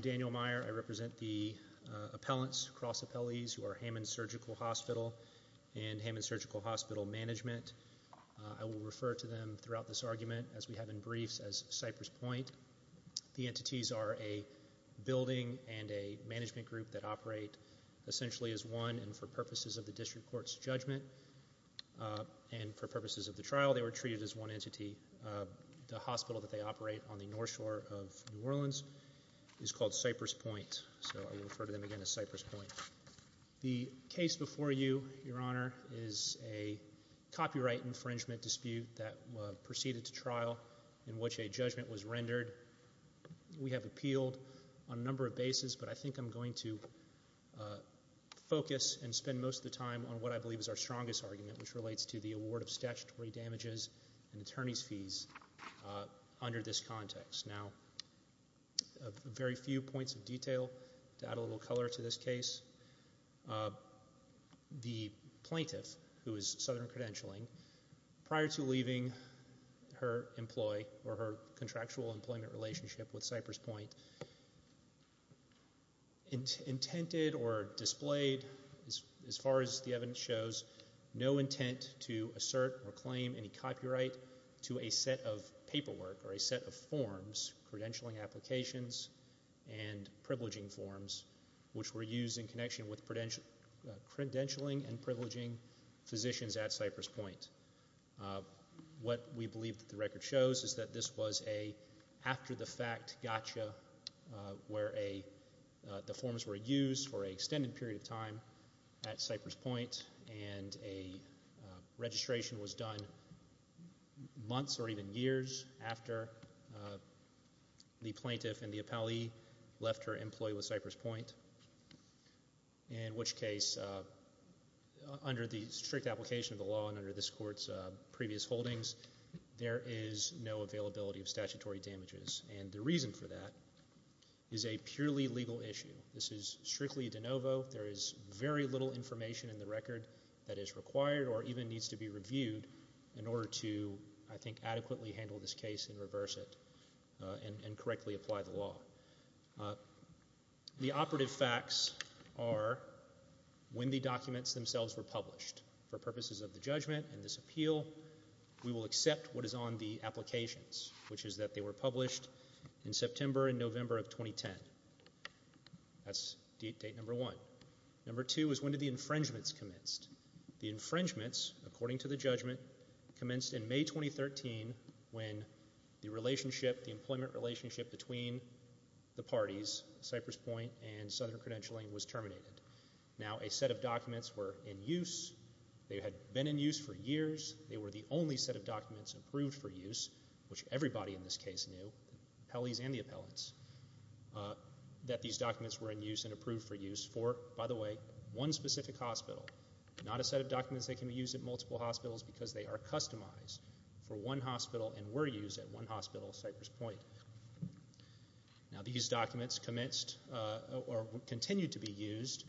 Daniel Meier. I represent the appellants, cross-appellees, who are Hammond Surgical Hospital and Hammond Surgical Hospital Management. I will refer to them throughout this argument as we have in briefs as Cypress Point. The entities are a building and a management group that operate essentially as one and for purposes of the District Court's judgment and for purposes of the trial they were treated as one entity. The hospital that they operate on the North is called Cypress Point. So I will refer to them again as Cypress Point. The case before you, your honor, is a copyright infringement dispute that proceeded to trial in which a judgment was rendered. We have appealed on a number of bases but I think I'm going to focus and spend most of the time on what I believe is our strongest argument which relates to the award of statutory damages and attorney's fees under this context. Now, very few points of detail to add a little color to this case. The plaintiff, who is Southern Credentialing, prior to leaving her contractual employment relationship with Cypress Point, intended or displayed, as far as the evidence shows, no intent to assert or claim any copyright to a set of paperwork or a set of forms, credentialing applications and privileging forms, which were used in connection with credentialing and privileging physicians at Cypress Point. What we believe the record shows is that this was an after-the-fact gotcha where the forms were used for an extended period of time at Cypress Point and a registration was done months or even years after the plaintiff and the appellee left her employee with Cypress Point, in which case, under the strict application of the law and under this Court's previous holdings, there is no availability of statutory damages. And the reason for that is a purely legal issue. This is strictly de novo. There is very little information in the record that is required or even needs to be reviewed in order to, I think, adequately handle this case and reverse it and correctly apply the law. The operative facts are when the documents themselves were published. For purposes of the judgment and this appeal, we will accept what is on the applications, which is that they were published in September and November of 2010. That's date number one. Number two is when the infringements commenced. The infringements, according to the judgment, commenced in May 2013 when the relationship, the employment relationship between the parties, Cypress Point and Southern Credentialing, was terminated. Now a set of documents were in use. They had been in use for years. They were the only set of documents approved for use, which everybody in this case knew, the appellees and the appellants, that these documents were in use and approved for use for, by the way, one specific hospital, not a set of documents that can be used at multiple hospitals because they are customized for one hospital and were used at one hospital, Cypress Point. Now these documents commenced or continued to be used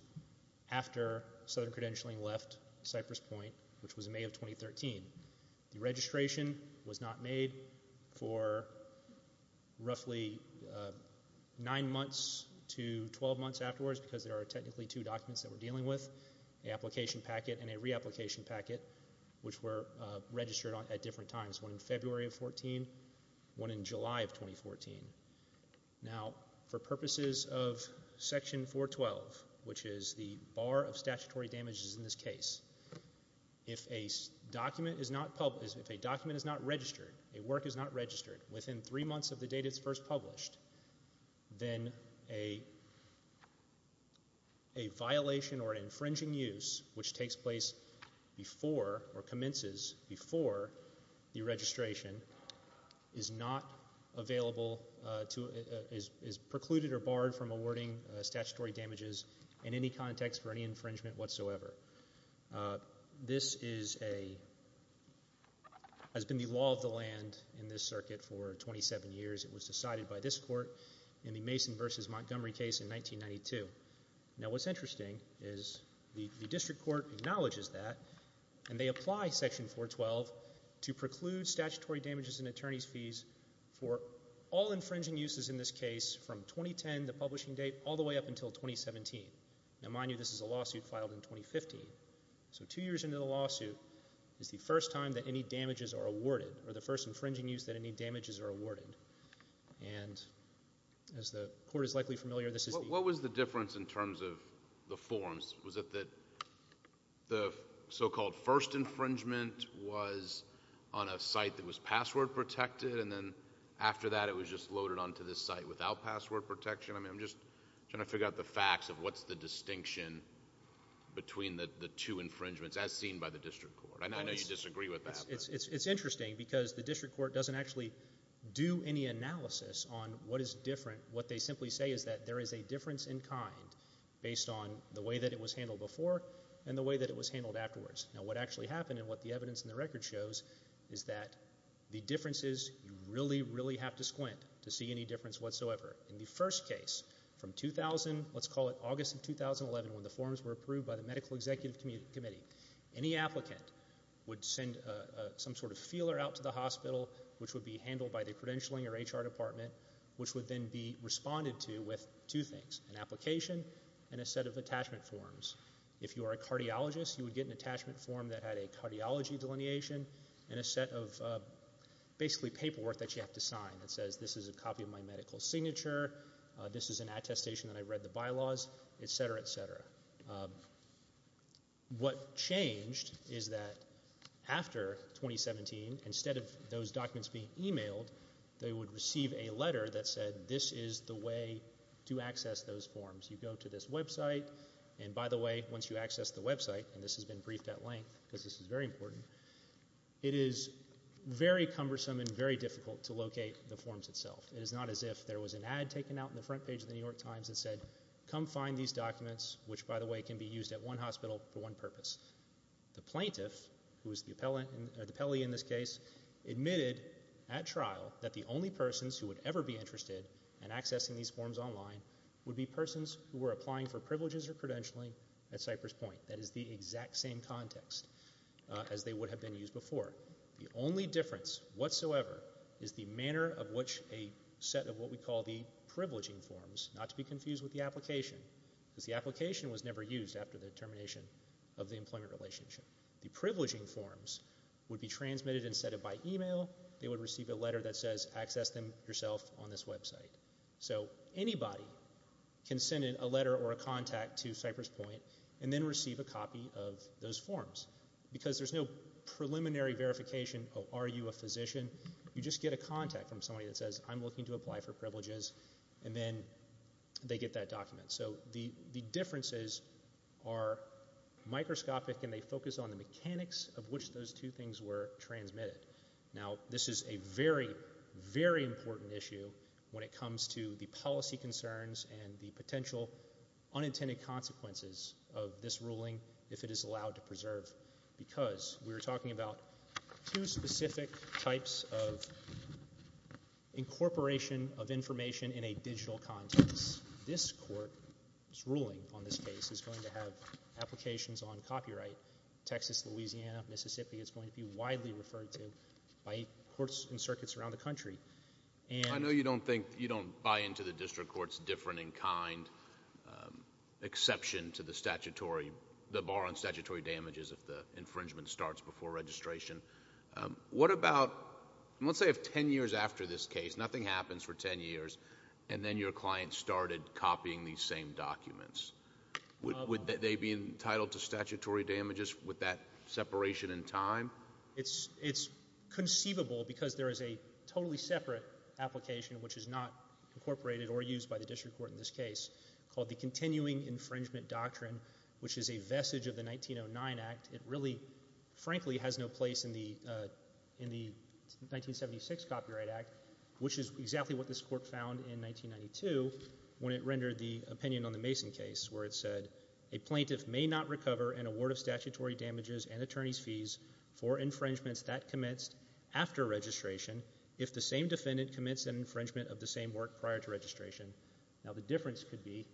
after Southern Credentialing left Cypress Point, which was May of 2013. The registration was not made for roughly nine months to twelve months afterwards because there are technically two documents that we're dealing with, the application packet and a reapplication packet, which were registered at different times, one in February of 2014, one in July of 2014. Now for purposes of Section 412, which is the bar of statutory damages in this case, if a document is not registered, a work is not registered within three months of the date it's first published, then a violation or an infringing use, which takes place before or commences before the registration, is not in context for any infringement whatsoever. This has been the law of the land in this circuit for 27 years. It was decided by this court in the Mason v. Montgomery case in 1992. Now what's interesting is the district court acknowledges that and they apply Section 412 to preclude statutory damages and attorney's fees for all infringing uses in this case from 2010, the publishing date, all the way up until 2017. Now mind you, this is a lawsuit filed in 2015. So two years into the lawsuit is the first time that any damages are awarded or the first infringing use that any damages are awarded. And as the court is likely familiar, this is the... What was the difference in terms of the forms? Was it that the so-called first infringement was on a site that was password protected and then after that it was just loaded onto this site without password protection? I'm just trying to figure out the facts of what's the distinction between the two infringements as seen by the district court. I know you disagree with that. It's interesting because the district court doesn't actually do any analysis on what is different. What they simply say is that there is a difference in kind based on the way that it was handled before and the way that it was handled afterwards. Now what actually happened and what the evidence in the record shows is that the difference is you really, really have to squint to see any difference whatsoever. In the first case, from 2000, let's call it August of 2011 when the forms were approved by the Medical Executive Committee, any applicant would send some sort of feeler out to the hospital which would be handled by the credentialing or HR department which would then be responded to with two things, an application and a set of attachment forms. If you are a cardiologist, you would get an attachment form that had a cardiology delineation and a set of basically paperwork that you have to sign that says this is a copy of my medical signature, this is an attestation that I read the bylaws, et cetera, et cetera. What changed is that after 2017, instead of those documents being emailed, they would receive a letter that said this is the way to access those forms. You go to this website and by the way, once you access the website and this has been briefed at length because this is very important, it is very cumbersome and very difficult to locate the forms itself. It is not as if there was an ad taken out in the front page of the New York Times that said come find these documents which by the way can be used at one hospital for one purpose. The plaintiff who is the appellee in this case admitted at trial that the only persons who would ever be interested in accessing these forms online would be persons who were applying for privileges or credentialing at Cypress Point. That is the exact same context as they would have been used before. The only difference whatsoever is the manner of which a set of what we call the privileging forms, not to be confused with the application, because the application was never used after the termination of the employment relationship. The privileging forms would be transmitted instead of by email, they would receive a letter that says access them yourself on this website. So anybody can send in a letter or a contact to Cypress Point and then receive a copy of those forms because there is no preliminary verification of are you a physician, you just get a contact from somebody that says I'm looking to apply for privileges and then they get that document. So the differences are microscopic and they focus on the mechanics of which those two things were transmitted. Now this is a very, very important issue when it comes to the policy concerns and the potential unintended consequences of this ruling if it is allowed to preserve because we're talking about two specific types of incorporation of information in a digital context. This court's ruling on this case is going to have applications on copyright. Texas, Louisiana, Mississippi, it's going to be widely referred to by courts and circuits around the country. I know you don't think, you don't buy into the district court's different in kind exception to the statutory, the bar on statutory damages if the infringement starts before registration. What about, let's say if 10 years after this case, nothing happens for 10 years and then your client started copying these same documents, would they be entitled to statutory damages with that separation in time? It's conceivable because there is a totally separate application which is not incorporated or used by the district court in this case called the Continuing Infringement Doctrine which is a vestige of the 1909 Act. It really, frankly, has no place in the 1976 Copyright Act which is exactly what this court found in 1992 when it rendered the opinion on the Mason case where it said, a plaintiff may not recover an award of statutory damages and attorney's fees for infringements that commenced after registration if the same defendant commits an infringement of the same work prior to registration. Now the difference could be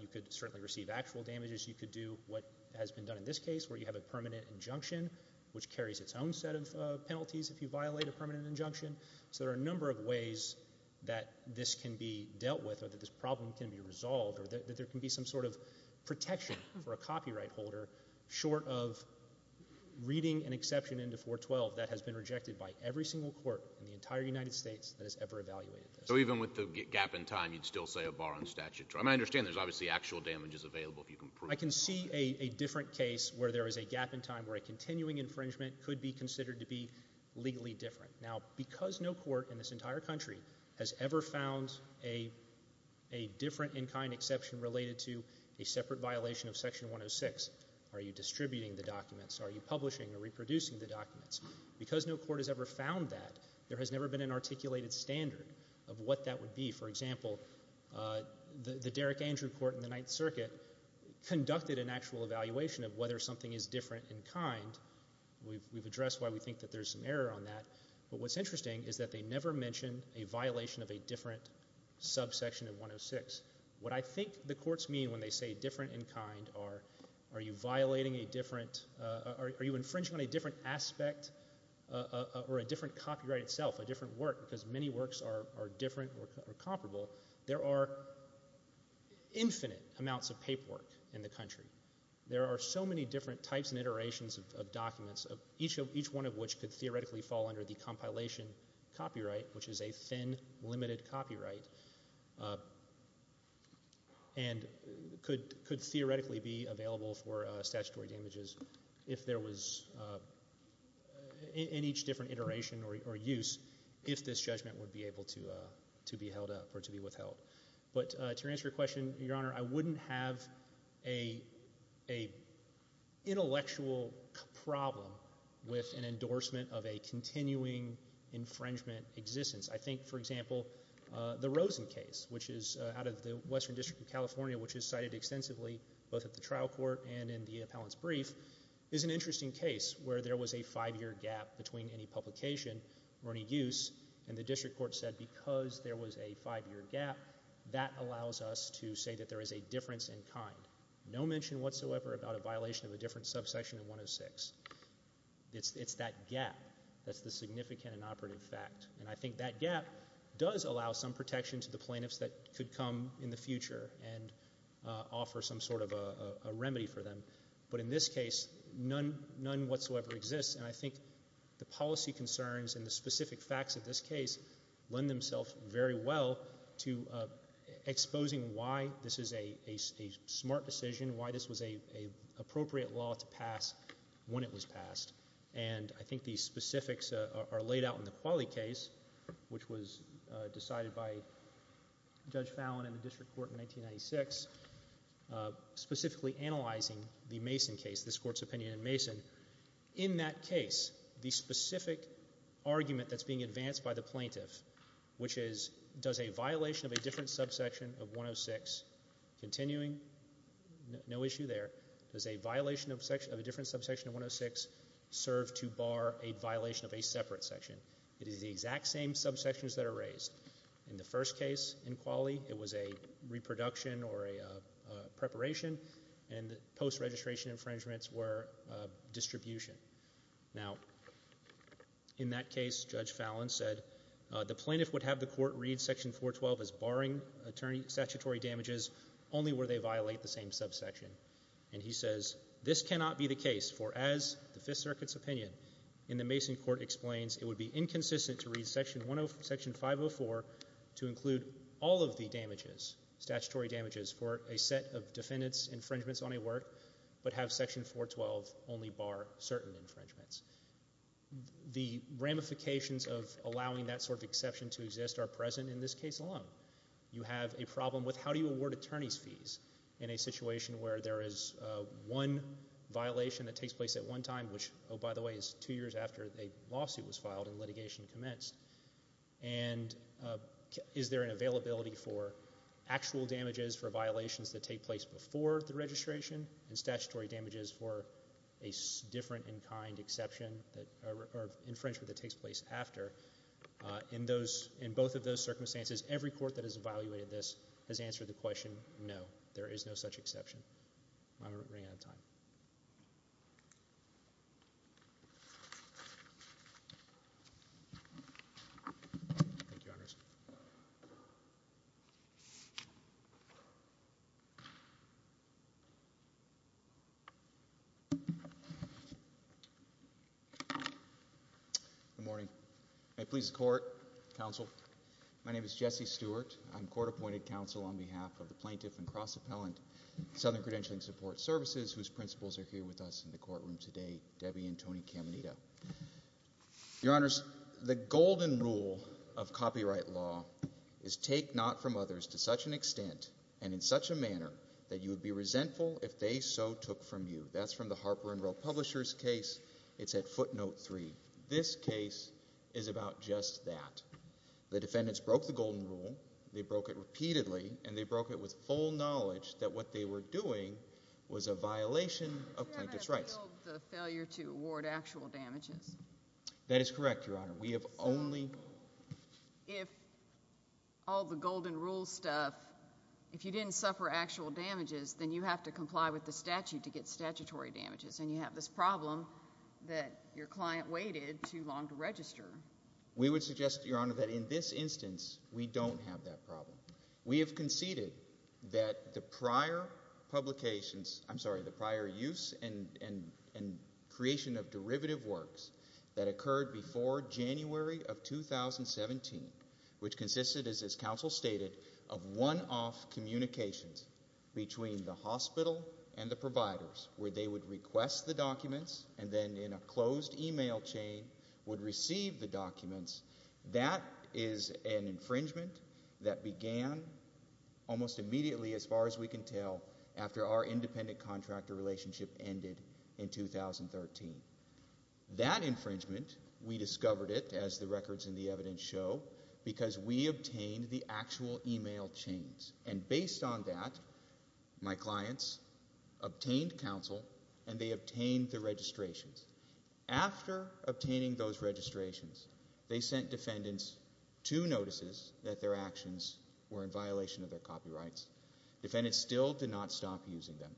you could certainly receive actual damages. You could do what has been done in this case where you have a permanent injunction which carries its own set of penalties if you violate a permanent injunction. So there are a number of ways that this can be dealt with or that this problem can be resolved or that there can be some sort of protection for a copyright holder short of reading an exception into 412 that has been rejected by every single court in the entire United States that has ever evaluated this. So even with the gap in time, you'd still say a bar on statute. I understand there's obviously actual damages available if you can prove it. I can see a different case where there is a gap in time where a continuing infringement could be considered to be legally different. Now because no court in this entire country has ever found a different in-kind exception related to a separate violation of Section 106, are you distributing the documents? Are you publishing or reproducing the documents? Because no court has ever found that, there has never been an articulated standard of what that would be. For example, the Derrick Andrew Court in the Ninth Circuit conducted an actual evaluation of whether something is different in kind. We've addressed why we think that there's an error on that. But what's interesting is that they never mention a violation of a different subsection of 106. What I think the courts mean when they say a different aspect or a different copyright itself, a different work, because many works are different or comparable, there are infinite amounts of paperwork in the country. There are so many different types and iterations of documents, each one of which could theoretically fall under the compilation copyright, which is a thin, limited copyright, and could theoretically be available for statutory damages if there was, in each different iteration or use, if this judgment would be able to be held up or to be withheld. But to answer your question, Your Honor, I wouldn't have an intellectual problem with an endorsement of a continuing infringement existence. I think, for example, the Rosen case, which is out of the Western District of California, which is cited extensively both at the trial court and in the appellant's brief, is an interesting case where there was a five-year gap between any publication or any use, and the district court said because there was a five-year gap, that allows us to say that there is a difference in kind. No mention whatsoever about a violation of a different subsection of 106. It's that gap that's the significant and operative fact. And I think that gap does allow some protection to the plaintiffs that could come in the future and offer some sort of a remedy for them. But in this case, none whatsoever exists, and I think the policy concerns and the specific facts of this case lend themselves very well to exposing why this is a smart decision, why this was an appropriate law to pass when it was passed. And I think these specifics are laid out in the Qualie case, which was decided by Judge Fallon in the district court in 1996, specifically analyzing the Mason case, this court's opinion in Mason. In that case, the specific argument that's being advanced by the plaintiff, which is, does a violation of a different subsection of 106, continuing, no issue there, does a violation of a different subsection of 106 serve to bar a violation of a separate section? It is the exact same subsections that are raised. In the first case in Qualie, it was a reproduction or a preparation, and post-registration infringements were distribution. Now, in that case, Judge Fallon said, the plaintiff would have the right to violate the same subsection, and he says, this cannot be the case, for as the Fifth Circuit's opinion in the Mason court explains, it would be inconsistent to read Section 504 to include all of the damages, statutory damages, for a set of defendant's infringements on a work, but have Section 412 only bar certain infringements. The ramifications of allowing that sort of exception to exist are present in this case alone. You have a situation where there is one violation that takes place at one time, which, oh, by the way, is two years after a lawsuit was filed and litigation commenced, and is there an availability for actual damages for violations that take place before the registration and statutory damages for a different in kind exception that, or infringement that takes place after. In those, in both of those circumstances, every court that has evaluated this has answered the question, no, there is no such exception. I'm running out of time. Thank you, Your Honors. Good morning. May it please the Court, Counsel, my name is Jesse Stewart. I'm Court-Appointed Counsel on behalf of the Plaintiff and Cross-Appellant Southern Credentialing Support Services, whose principals are here with us in the courtroom today, Debbie and Tony Caminito. Your Honors, the golden rule of copyright law is take not from others to such an extent and in such a manner that you would be resentful if they so took from you. That's from the Harper & Rowe Publishers case. It's at footnote three. This case is about just that. The defendants broke the golden rule, they broke it repeatedly, and they broke it with full knowledge that what they were doing was a violation of plaintiff's rights. You haven't appealed the failure to award actual damages. That is correct, Your Honor. We have only... If all the golden rule stuff, if you didn't suffer actual damages, then you have to comply with the statute to get statutory damages, and you have this problem that your client waited too long to register. We would suggest, Your Honor, that in this instance, we don't have that problem. We have conceded that the prior publications, I'm sorry, the prior use and creation of derivative works that occurred before January of 2017, which consisted, as this counsel stated, of one-off communications between the hospital and the providers, where they would request the documents and then, in a closed email chain, would receive the documents. That is an infringement that began almost immediately, as far as we can tell, after our independent contractor relationship ended in 2013. That infringement, we discovered it, as the records in the evidence show, because we obtained the actual email chains, and based on that, my clients obtained counsel, and they obtained the registrations. After obtaining those registrations, they sent defendants two notices that their actions were in violation of their copyrights. Defendants still did not stop using them.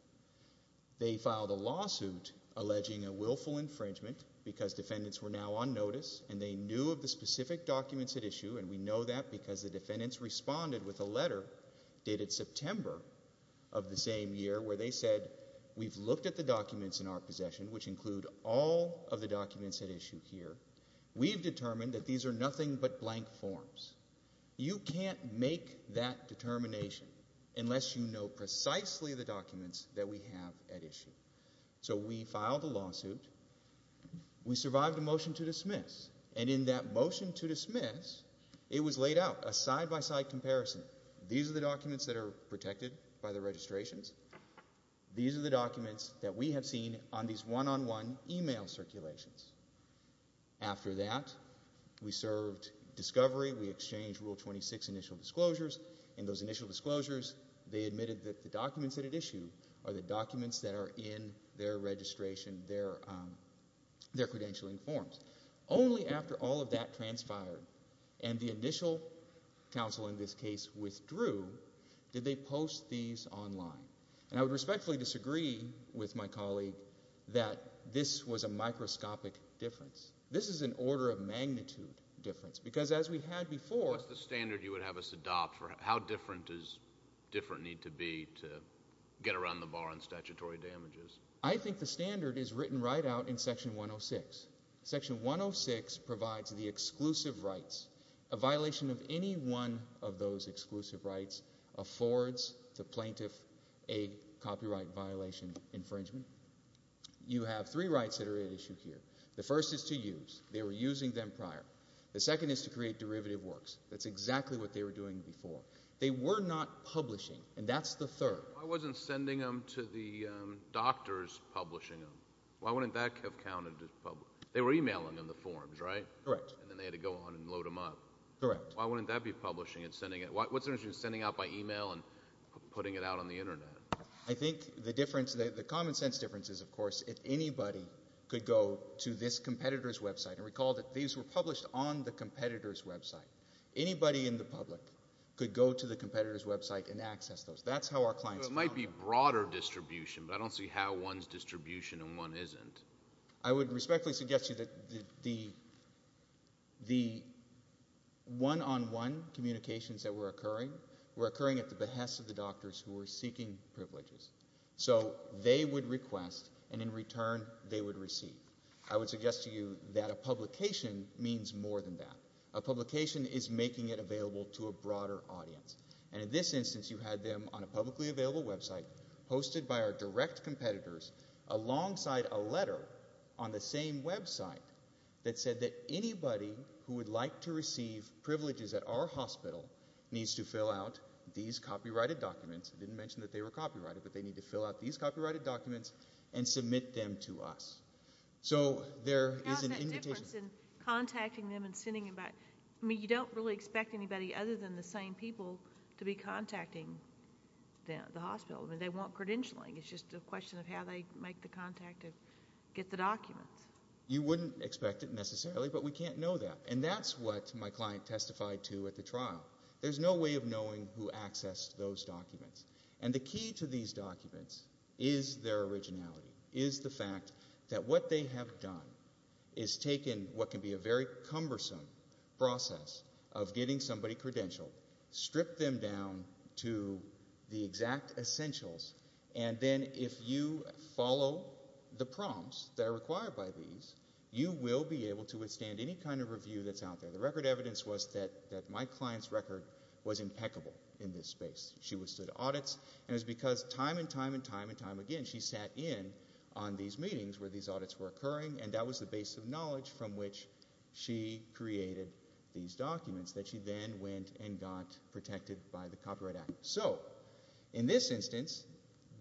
They filed a lawsuit alleging a willful infringement because defendants were now on notice, and they knew of the specific documents at issue, and we know that because the defendants responded with a letter dated September of the same year where they said, we've looked at the documents in our possession, which include all of the documents at issue here. We've determined that these are nothing but blank forms. You can't make that determination unless you know precisely the documents that we have at issue. So we filed a lawsuit. We survived a motion to dismiss, and in that motion to dismiss, it was laid out a side-by-side comparison. These are the documents that are protected by the registrations. These are the documents that we have seen on these one-on-one email circulations. After that, we served discovery. We exchanged Rule 26 initial disclosures, and those initial disclosures, they admitted that the documents at issue are the documents that are in their registration, their credentialing forms. Only after all of that transpired and the initial counsel, in this case, withdrew, did they post these online. And I would respectfully disagree with my colleague that this was a microscopic difference. This is an order of magnitude difference, because as we had before... What's the standard you would have us adopt for how different does different need to be to get around the bar on statutory damages? I think the standard is written right out in Section 106. Section 106 provides the exclusive rights. A violation of any one of those exclusive rights affords the plaintiff a copyright violation infringement. You have three rights that are at issue here. The first is to use. They were using them prior. The second is to create derivative works. That's exactly what they were doing before. They were not publishing, and that's the third. Why wasn't sending them to the doctors publishing them? Why wouldn't that have counted as public? They were emailing them the forms, right? Correct. And then they had to go on and load them up. Correct. Why wouldn't that be publishing and sending it? What's the difference between sending out by email and putting it out on the Internet? I think the difference, the common sense difference is, of course, if anybody could go to this competitor's website. And recall that these were published on the competitor's website. Anybody in the public could go to the competitor's website and access those. That's how our clients found them. So it might be broader distribution, but I don't see how one's distribution and one isn't. I would respectfully suggest to you that the one-on-one communications that were occurring were occurring at the behest of the doctors who were seeking privileges. So they would request, and in return, they would receive. I would suggest to you that a publication means more than that. A publication is making it available to a broader audience. And in this instance, you had them on a publicly available website, hosted by our direct competitors, alongside a letter on the same website that said that anybody who would like to receive privileges at our hospital needs to fill out these copyrighted documents. I didn't mention that they were copyrighted, but they need to fill out these copyrighted documents and submit them to us. So there is an invitation. How is that different than contacting them and sending them back? I mean, you don't really expect anybody other than the same people to be contacting the hospital. I mean, they want credentialing. It's just a question of how they make the contact to get the documents. You wouldn't expect it necessarily, but we can't know that. And that's what my client testified to at the trial. There's no way of knowing who accessed those documents. And the key to these documents is their originality, is the fact that what they have done is taken what can be a very cumbersome process of getting somebody credentialed, stripped them down to the exact essentials, and then if you follow the prompts that are required by these, you will be able to withstand any kind of review that's out there. The record evidence was that my client's record was impeccable in this space. She withstood audits, and it was because time and time and time and time again she sat in on these meetings where these audits were occurring, and that was the base of knowledge from which she created these documents that she then went and got protected by the Copyright Act. So, in this instance,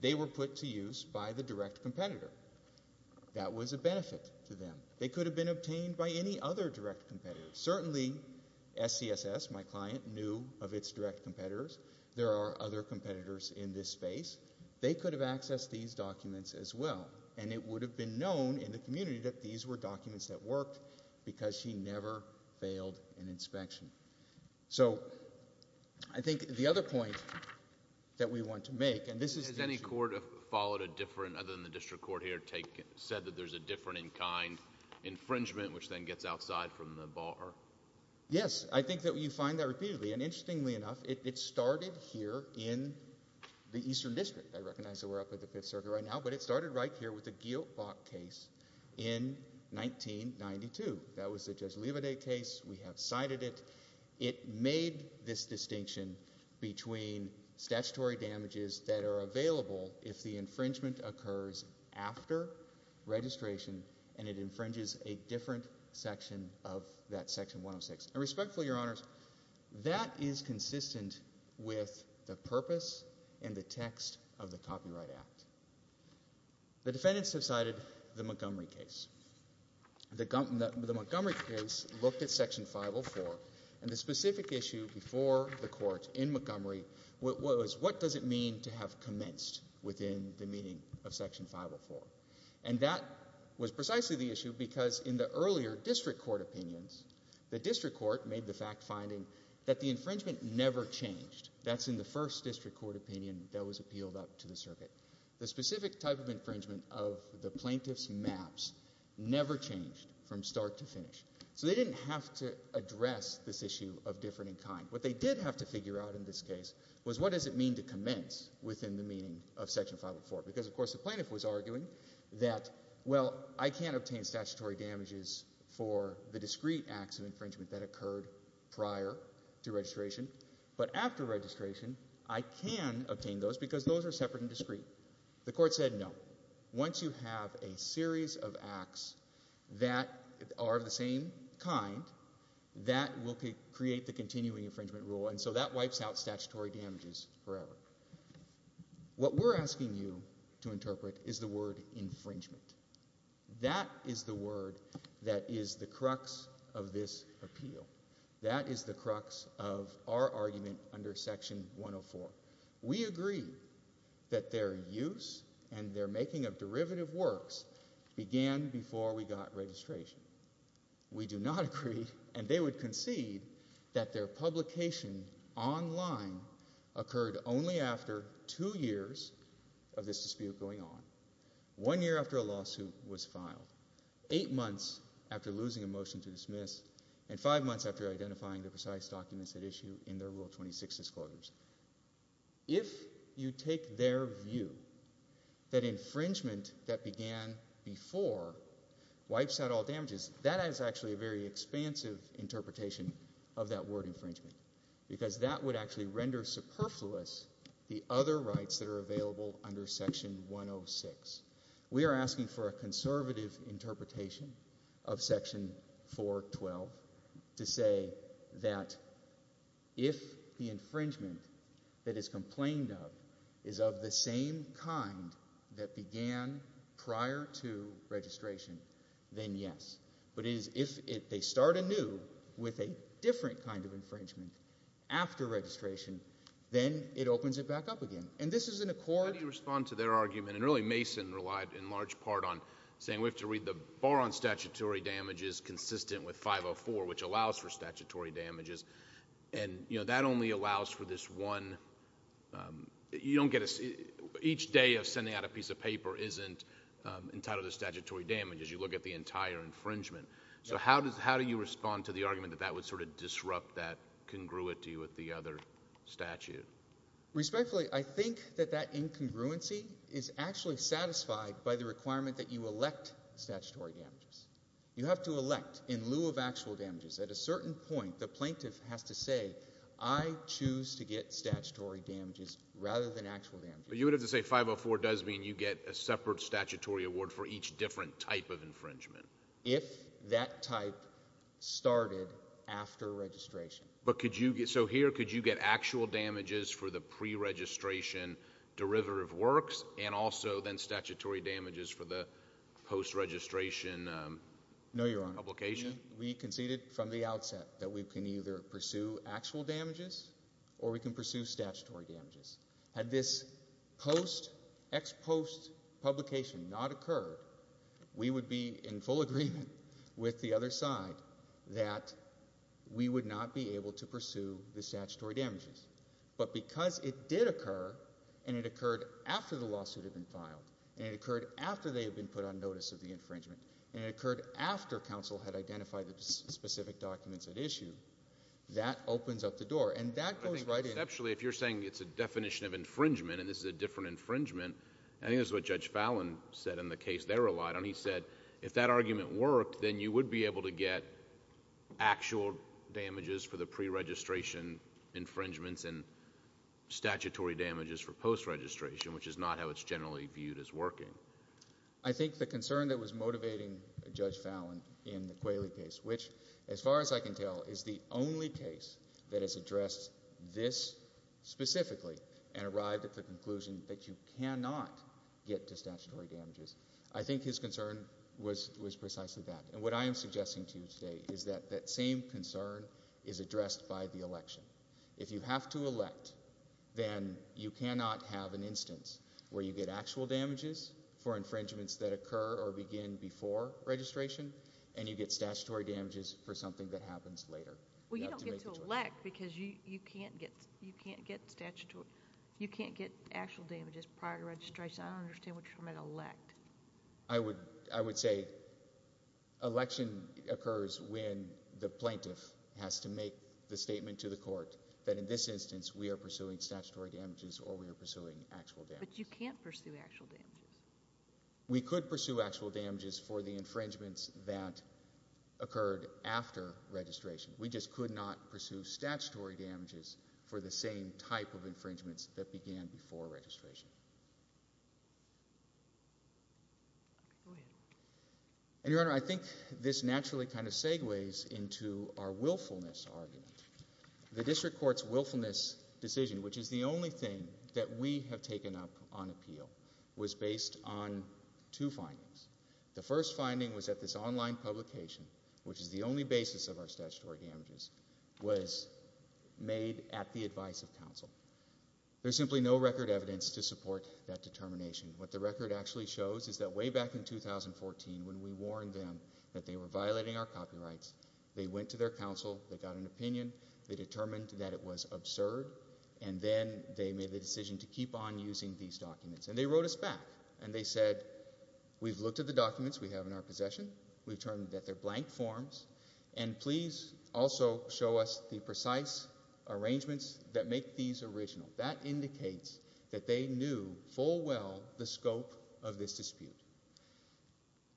they were put to use by the direct competitor. That was a benefit to them. They could have been obtained by any other direct competitor. Certainly SCSS, my client, knew of its direct competitors. There are other competitors in this space. They could have accessed these documents as well, and it would have been known in the community that these were documents that worked because she never failed an inspection. So, I think the other point that we want to make, and this is... Has any court followed a different, other than the district court here, said that there's a different in kind infringement, which then gets outside from the bar? Yes. I think that you find that repeatedly, and interestingly enough, it started here in the Eastern District. I recognize that we're up at the Fifth Circuit right now, but it started right here with the Gieltbach case in 1992. That was the Judge Levade case. We have cited it. It made this distinction between statutory damages that are available if the infringement occurs after registration, and it infringes a different section of that Section 106. And respectfully, Your Honors, that is consistent with the purpose and the copyright act. The defendants have cited the Montgomery case. The Montgomery case looked at Section 504, and the specific issue before the court in Montgomery was, what does it mean to have commenced within the meaning of Section 504? And that was precisely the issue because in the earlier district court opinions, the district court made the fact finding that the infringement never changed. That's in the first district court opinion that was appealed up to the circuit. The specific type of infringement of the plaintiff's maps never changed from start to finish, so they didn't have to address this issue of different in kind. What they did have to figure out in this case was, what does it mean to commence within the meaning of Section 504? Because, of course, the plaintiff was arguing that, well, I can't obtain statutory damages for the discrete acts of infringement that occurred prior to registration, but after registration, I can obtain those because those are separate and discrete. The court said, no. Once you have a series of acts that are of the same kind, that will create the continuing infringement rule, and so that wipes out statutory damages forever. What we're asking you to interpret is the word infringement. That is the word that is the crux of this appeal. That is the crux of our argument under Section 104. We agree that their use and their making of derivative works began before we got registration. We do not agree, and they would concede, that their publication online occurred only after two years of this dispute going on, one year after a lawsuit was filed, eight months after losing a motion to dismiss, and five months after identifying the precise documents at issue in their Rule 26 disclosures. If you take their view, that infringement that began before wipes out all damages, that is actually a very expansive interpretation of that word infringement, because that would actually render superfluous the other rights that are available under Section 106. We are asking for a conservative interpretation of Section 412 to say that if the infringement that is complained of is of the same kind that began prior to registration, then yes, but if they start anew with a different kind of infringement, after registration, then it opens it back up again. And this is an accord... How do you respond to their argument, and really Mason relied in large part on saying we have to read the bar on statutory damages consistent with 504, which allows for statutory damages, and that only allows for this one... Each day of sending out a piece of paper isn't entitled to statutory damages. You look at the entire infringement. So how do you respond to the argument that that would sort of disrupt that congruity with the other statute? Respectfully, I think that that incongruency is actually satisfied by the requirement that you elect statutory damages. You have to elect in lieu of actual damages. At a certain point, the plaintiff has to say, I choose to get statutory damages rather than actual damages. But you would have to say 504 does mean you get a separate statutory award for each different type of infringement. If that type started after registration. But could you... So here, could you get actual damages for the pre-registration derivative works, and also then statutory damages for the post-registration publication? No, Your Honor. We conceded from the outset that we can either pursue actual damages, or we can pursue statutory damages. Had this post... Ex-post publication not occurred, we would be in full agreement with the other side that we would not be able to pursue the statutory damages. But because it did occur, and it occurred after the lawsuit had been filed, and it occurred after they had been put on notice of the infringement, and it occurred after counsel had identified the specific documents at issue, that opens up the door. And that goes right in... But I think conceptually, if you're saying it's a definition of infringement, and this is a different infringement, I think that's what Judge Fallin said in the case they relied on. He said, if that argument worked, then you would be able to get actual damages for the pre-registration infringements, and statutory damages for post-registration, which is not how it's generally viewed as working. I think the concern that was motivating Judge Fallin in the Qualey case, which, as far as I can tell, is the only case that has addressed this specifically, and arrived at the conclusion that you cannot get to statutory damages, I think his concern was precisely that. And what I am suggesting to you today is that that same concern is addressed by the election. If you have to elect, then you cannot have an instance where you get actual damages for infringements that occur or begin before registration, and you get statutory damages for something that happens later. Well, you don't get to elect, because you can't get actual damages prior to registration. I don't understand what you're trying to elect. I would say election occurs when the plaintiff has to make the statement to the court that in this instance, we are pursuing statutory damages or we are pursuing actual damages. But you can't pursue actual damages. We could pursue actual damages for the infringements that occurred after registration. We just could not pursue statutory damages for the same type of infringements that began before registration. And, Your Honor, I think this naturally kind of segues into our willfulness argument. The District Court's willfulness decision, which is the only thing that we have taken up on appeal, was based on two findings. The first finding was that this online publication, which is the only basis of our statutory damages, was made at the advice of counsel. There's simply no record evidence to support that determination. What the record actually shows is that way back in 2014, when we warned them that they were violating our copyrights, they went to their counsel, they got an opinion, they determined that it was absurd, and then they made the decision to keep on using these documents. And they wrote us back. And they said, we've looked at the documents we have in our possession, we've determined that they're blank forms, and please also show us the precise arrangements that make these original. That indicates that they knew full well the scope of this dispute.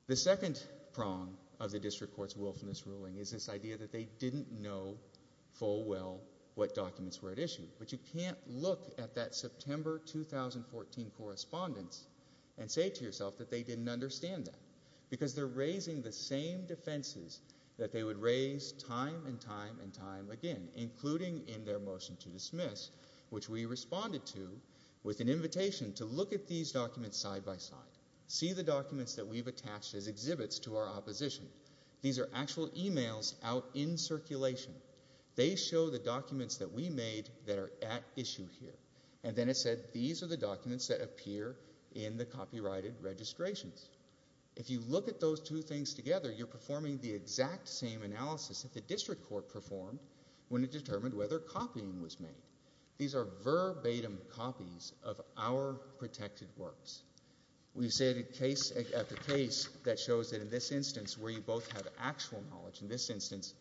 The second prong of the District Court's willfulness ruling is this idea that they didn't know full well what documents were at issue. But you can't look at that September 2014 correspondence and say to yourself that they didn't understand that. Because they're raising the same defenses that they would raise time and time and time again, including in their motion to dismiss, which we responded to with an invitation to look at these documents side by side. See the documents that we've attached as exhibits to our opposition. These are actual emails out in circulation. They show the documents that we made that are at issue here. And then it said, these are the documents that appear in the copyrighted registrations. If you look at those two things together, you're performing the exact same analysis that the District Court performed when it determined whether copying was made. These are verbatim copies of our protected works. We say at the case that shows that in this instance where you both have actual knowledge, in this instance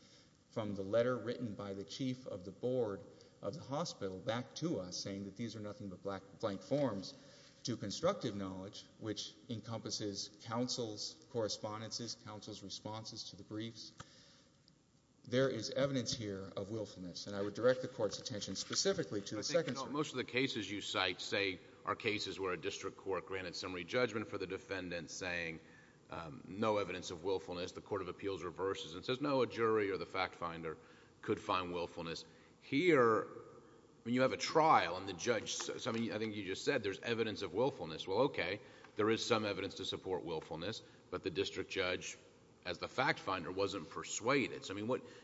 from the letter written by the chief of the board of the hospital back to us saying that these are nothing but blank forms to constructive knowledge, which encompasses counsel's correspondences, counsel's responses to the briefs. There is evidence here of willfulness. And I would direct the Court's attention specifically to the second. Most of the cases you cite say are cases where a district court granted summary judgment for the defendant saying no evidence of willfulness. The Court of Appeals reverses and says no, a jury or the fact finder could find willfulness. Here, you have a trial and the judge... I think you just said there's evidence of willfulness. Well, okay, there is some evidence to support willfulness, but the district judge as the fact finder wasn't persuaded.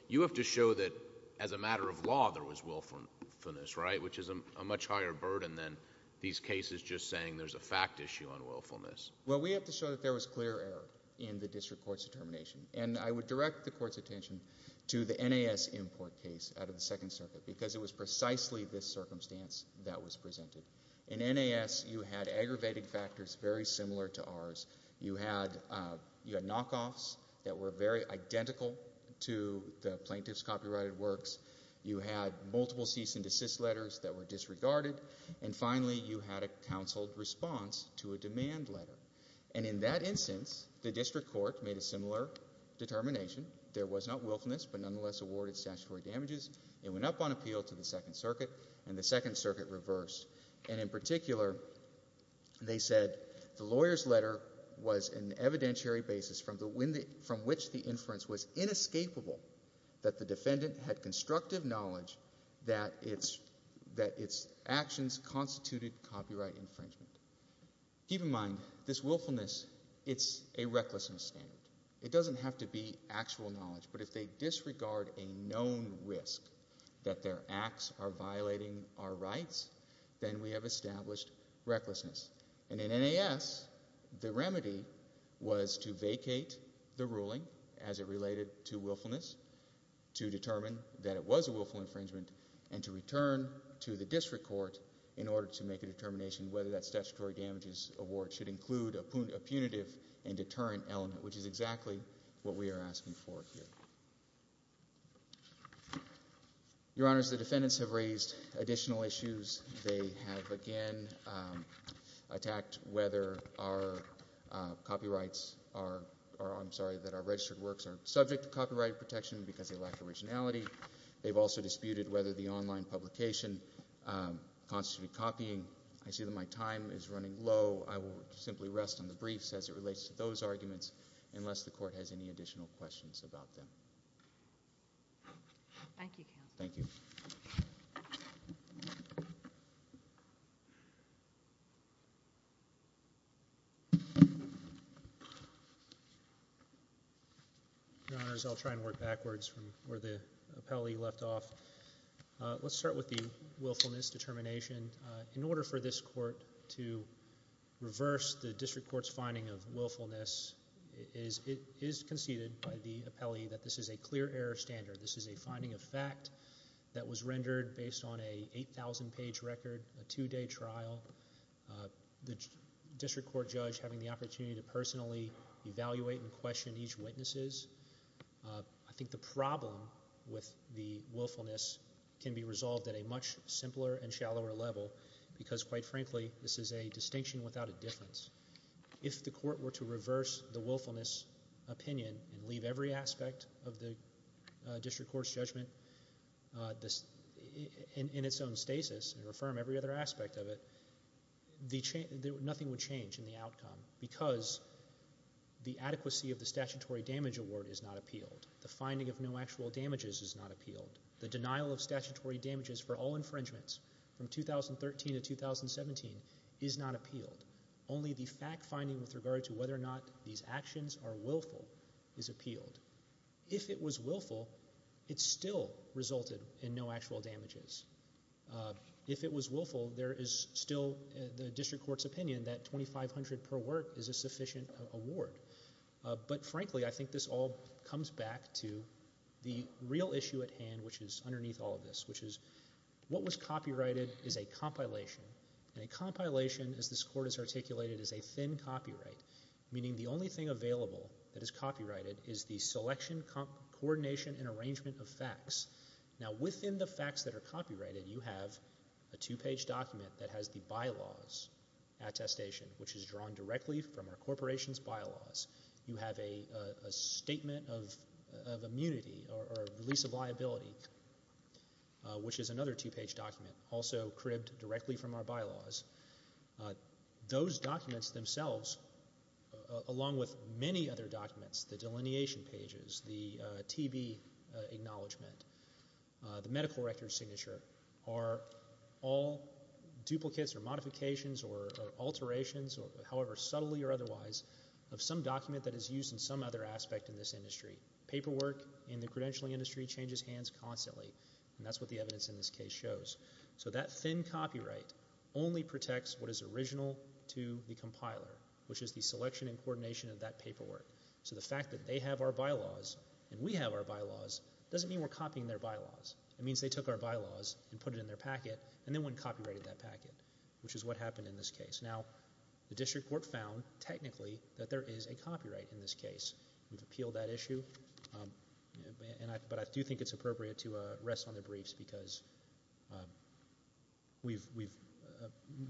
You have to show that as a matter of law there was willfulness, right, which is a much higher burden than these cases just saying there's a fact issue on willfulness. Well, we have to show that there was clear error in the district court's determination. And I would direct the Court's attention to the NAS import case out of the Second Circuit because it was precisely this circumstance that was presented. In NAS, you had aggravated factors very similar to ours. You had knockoffs that were very identical to the plaintiff's copyrighted works. You had multiple cease and desist letters that were disregarded. And finally, you had a counseled response to a demand letter. And in that instance, the district court made a similar determination. There was not willfulness, but nonetheless awarded statutory damages. It went up on appeal to the Second Circuit, and the Second Circuit reversed. And in particular, they said the lawyer's letter was an evidentiary basis from which the inference was inescapable that the defendant had constructive knowledge that its actions constituted copyright infringement. Keep in mind, this willfulness, it's a recklessness standard. It doesn't have to be actual knowledge. But if they disregard a known risk that their acts are violating our rights, then we have established recklessness. And in NAS, the remedy was to vacate the ruling as it related to willfulness, to determine that it was a willful infringement, and to return to the district court in order to make a determination whether that statutory damages award should include a punitive and deterrent element, which is exactly what we are asking for here. Your Honors, the defendants have raised additional issues. They have again attacked whether our copyrights are or I'm sorry, that our registered works are subject to copyright protection because they lack originality. They've also disputed whether the online publication constitutes copying. I see that my time is running low. I will simply rest on the briefs as it relates to those arguments unless the court has any additional questions about them. Thank you, Counsel. Thank you. Your Honors, I'll try and work backwards from where the appellee left off. Let's start with the willfulness determination. In order for this court to reverse the district court's finding of willfulness, it is conceded by the appellee that this is a clear error standard. This is a finding of fact that was rendered based on an 8,000-page record, a two-day trial, the district court judge having the opportunity to personally evaluate and question each witness. I think the problem with the willfulness can be resolved at a much simpler and shallower level because, quite frankly, this is a distinction without a difference. If the court were to reverse the willfulness opinion and leave every aspect of the district court's judgment in its own stasis and affirm every other aspect of it, nothing would change in the outcome because the adequacy of the statutory damage award is not appealed. The finding of no actual damages is not appealed. The denial of statutory damages for all infringements from 2013 to 2017 is not appealed. Only the fact finding with regard to whether or not these actions are willful is appealed. If it was willful, it still resulted in no actual damages. If it was willful, there is still the district court's opinion that 2,500 per work is a sufficient award. But, frankly, I think this all comes back to the real issue at hand, which is underneath all of this, which is what was copyrighted is a compilation, and a compilation, as this court has articulated, is a thin copyright, meaning the only thing available that is copyrighted is the selection, coordination, and arrangement of facts. Now, within the facts that are copyrighted, you have a two-page document that has the bylaws attestation, which is drawn directly from our corporation's bylaws. You have a statement of immunity or release of liability, which is another two-page document, also cribbed directly from our bylaws. Those documents themselves, along with many other documents, the delineation pages, the TB acknowledgment, the medical record signature, are all duplicates or modifications or alterations, however subtly or otherwise, of some document that is used in some other aspect in this industry. Paperwork in the credentialing industry changes hands constantly, and that's what the evidence in this case shows. So that thin copyright only protects what is original to the compiler, which is the selection and coordination of that paperwork. So the fact that they have our bylaws and we have our bylaws doesn't mean we're copying their bylaws. It means they took our bylaws and put it in their packet and then went and copyrighted that packet, which is what happened in this case. Now, the district court found technically that there is a copyright in this case. We've appealed that issue, but I do think it's appropriate to rest on the briefs because we've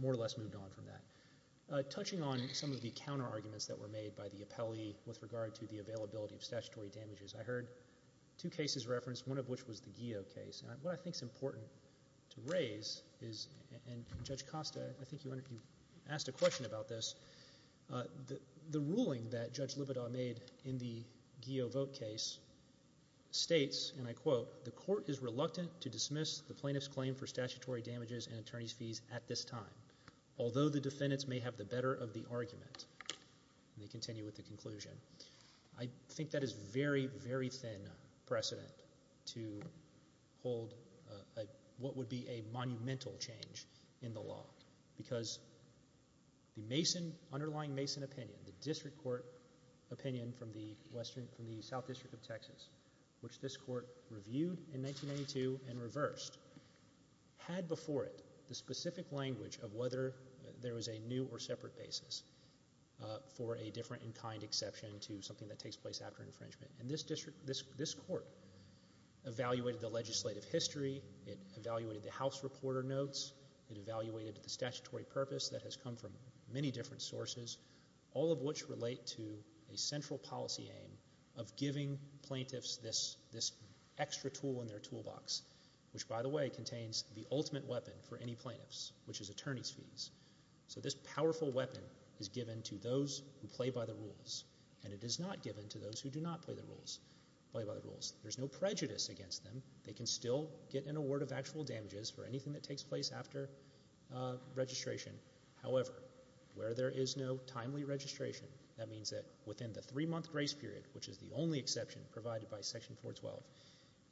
more or less moved on from that. Touching on some of the counterarguments that were made by the appellee with regard to the availability of statutory damages, I heard two cases referenced, one of which was the GEO case. And what I think is important to raise is, and Judge Costa, I think you asked a question about this, the ruling that Judge Libidaw made in the GEO vote case states, and I quote, the court is reluctant to dismiss the plaintiff's claim for statutory damages and attorney's fees at this time. Although the defendants may have the better of the argument, and they continue with the conclusion, I think that is very, very thin precedent to hold what would be a monumental change in the law because the underlying Mason opinion, the district court opinion from the South District of Texas, which this court reviewed in 1992 and reversed, had before it the specific language of whether there was a new or separate basis for a different and kind exception to something that takes place after infringement. And this court evaluated the legislative history. It evaluated the house reporter notes. It evaluated the statutory purpose that has come from many different sources, all of which relate to a central policy aim of giving plaintiffs this extra tool in their toolbox, which, by the way, contains the ultimate weapon for any plaintiffs, which is attorney's fees. So this powerful weapon is given to those who play by the rules, and it is not given to those who do not play by the rules. There's no prejudice against them. They can still get an award of actual damages for anything that takes place after registration. However, where there is no timely registration, that means that within the three-month grace period, which is the only exception provided by Section 412,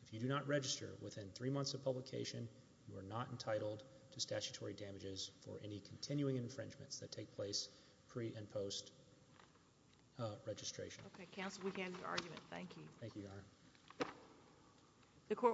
if you do not register within three months of publication, you are not entitled to statutory damages for any continuing infringements that take place pre- and post-registration. Okay. Counsel, we can't argue that. Thank you. Thank you, Your Honor.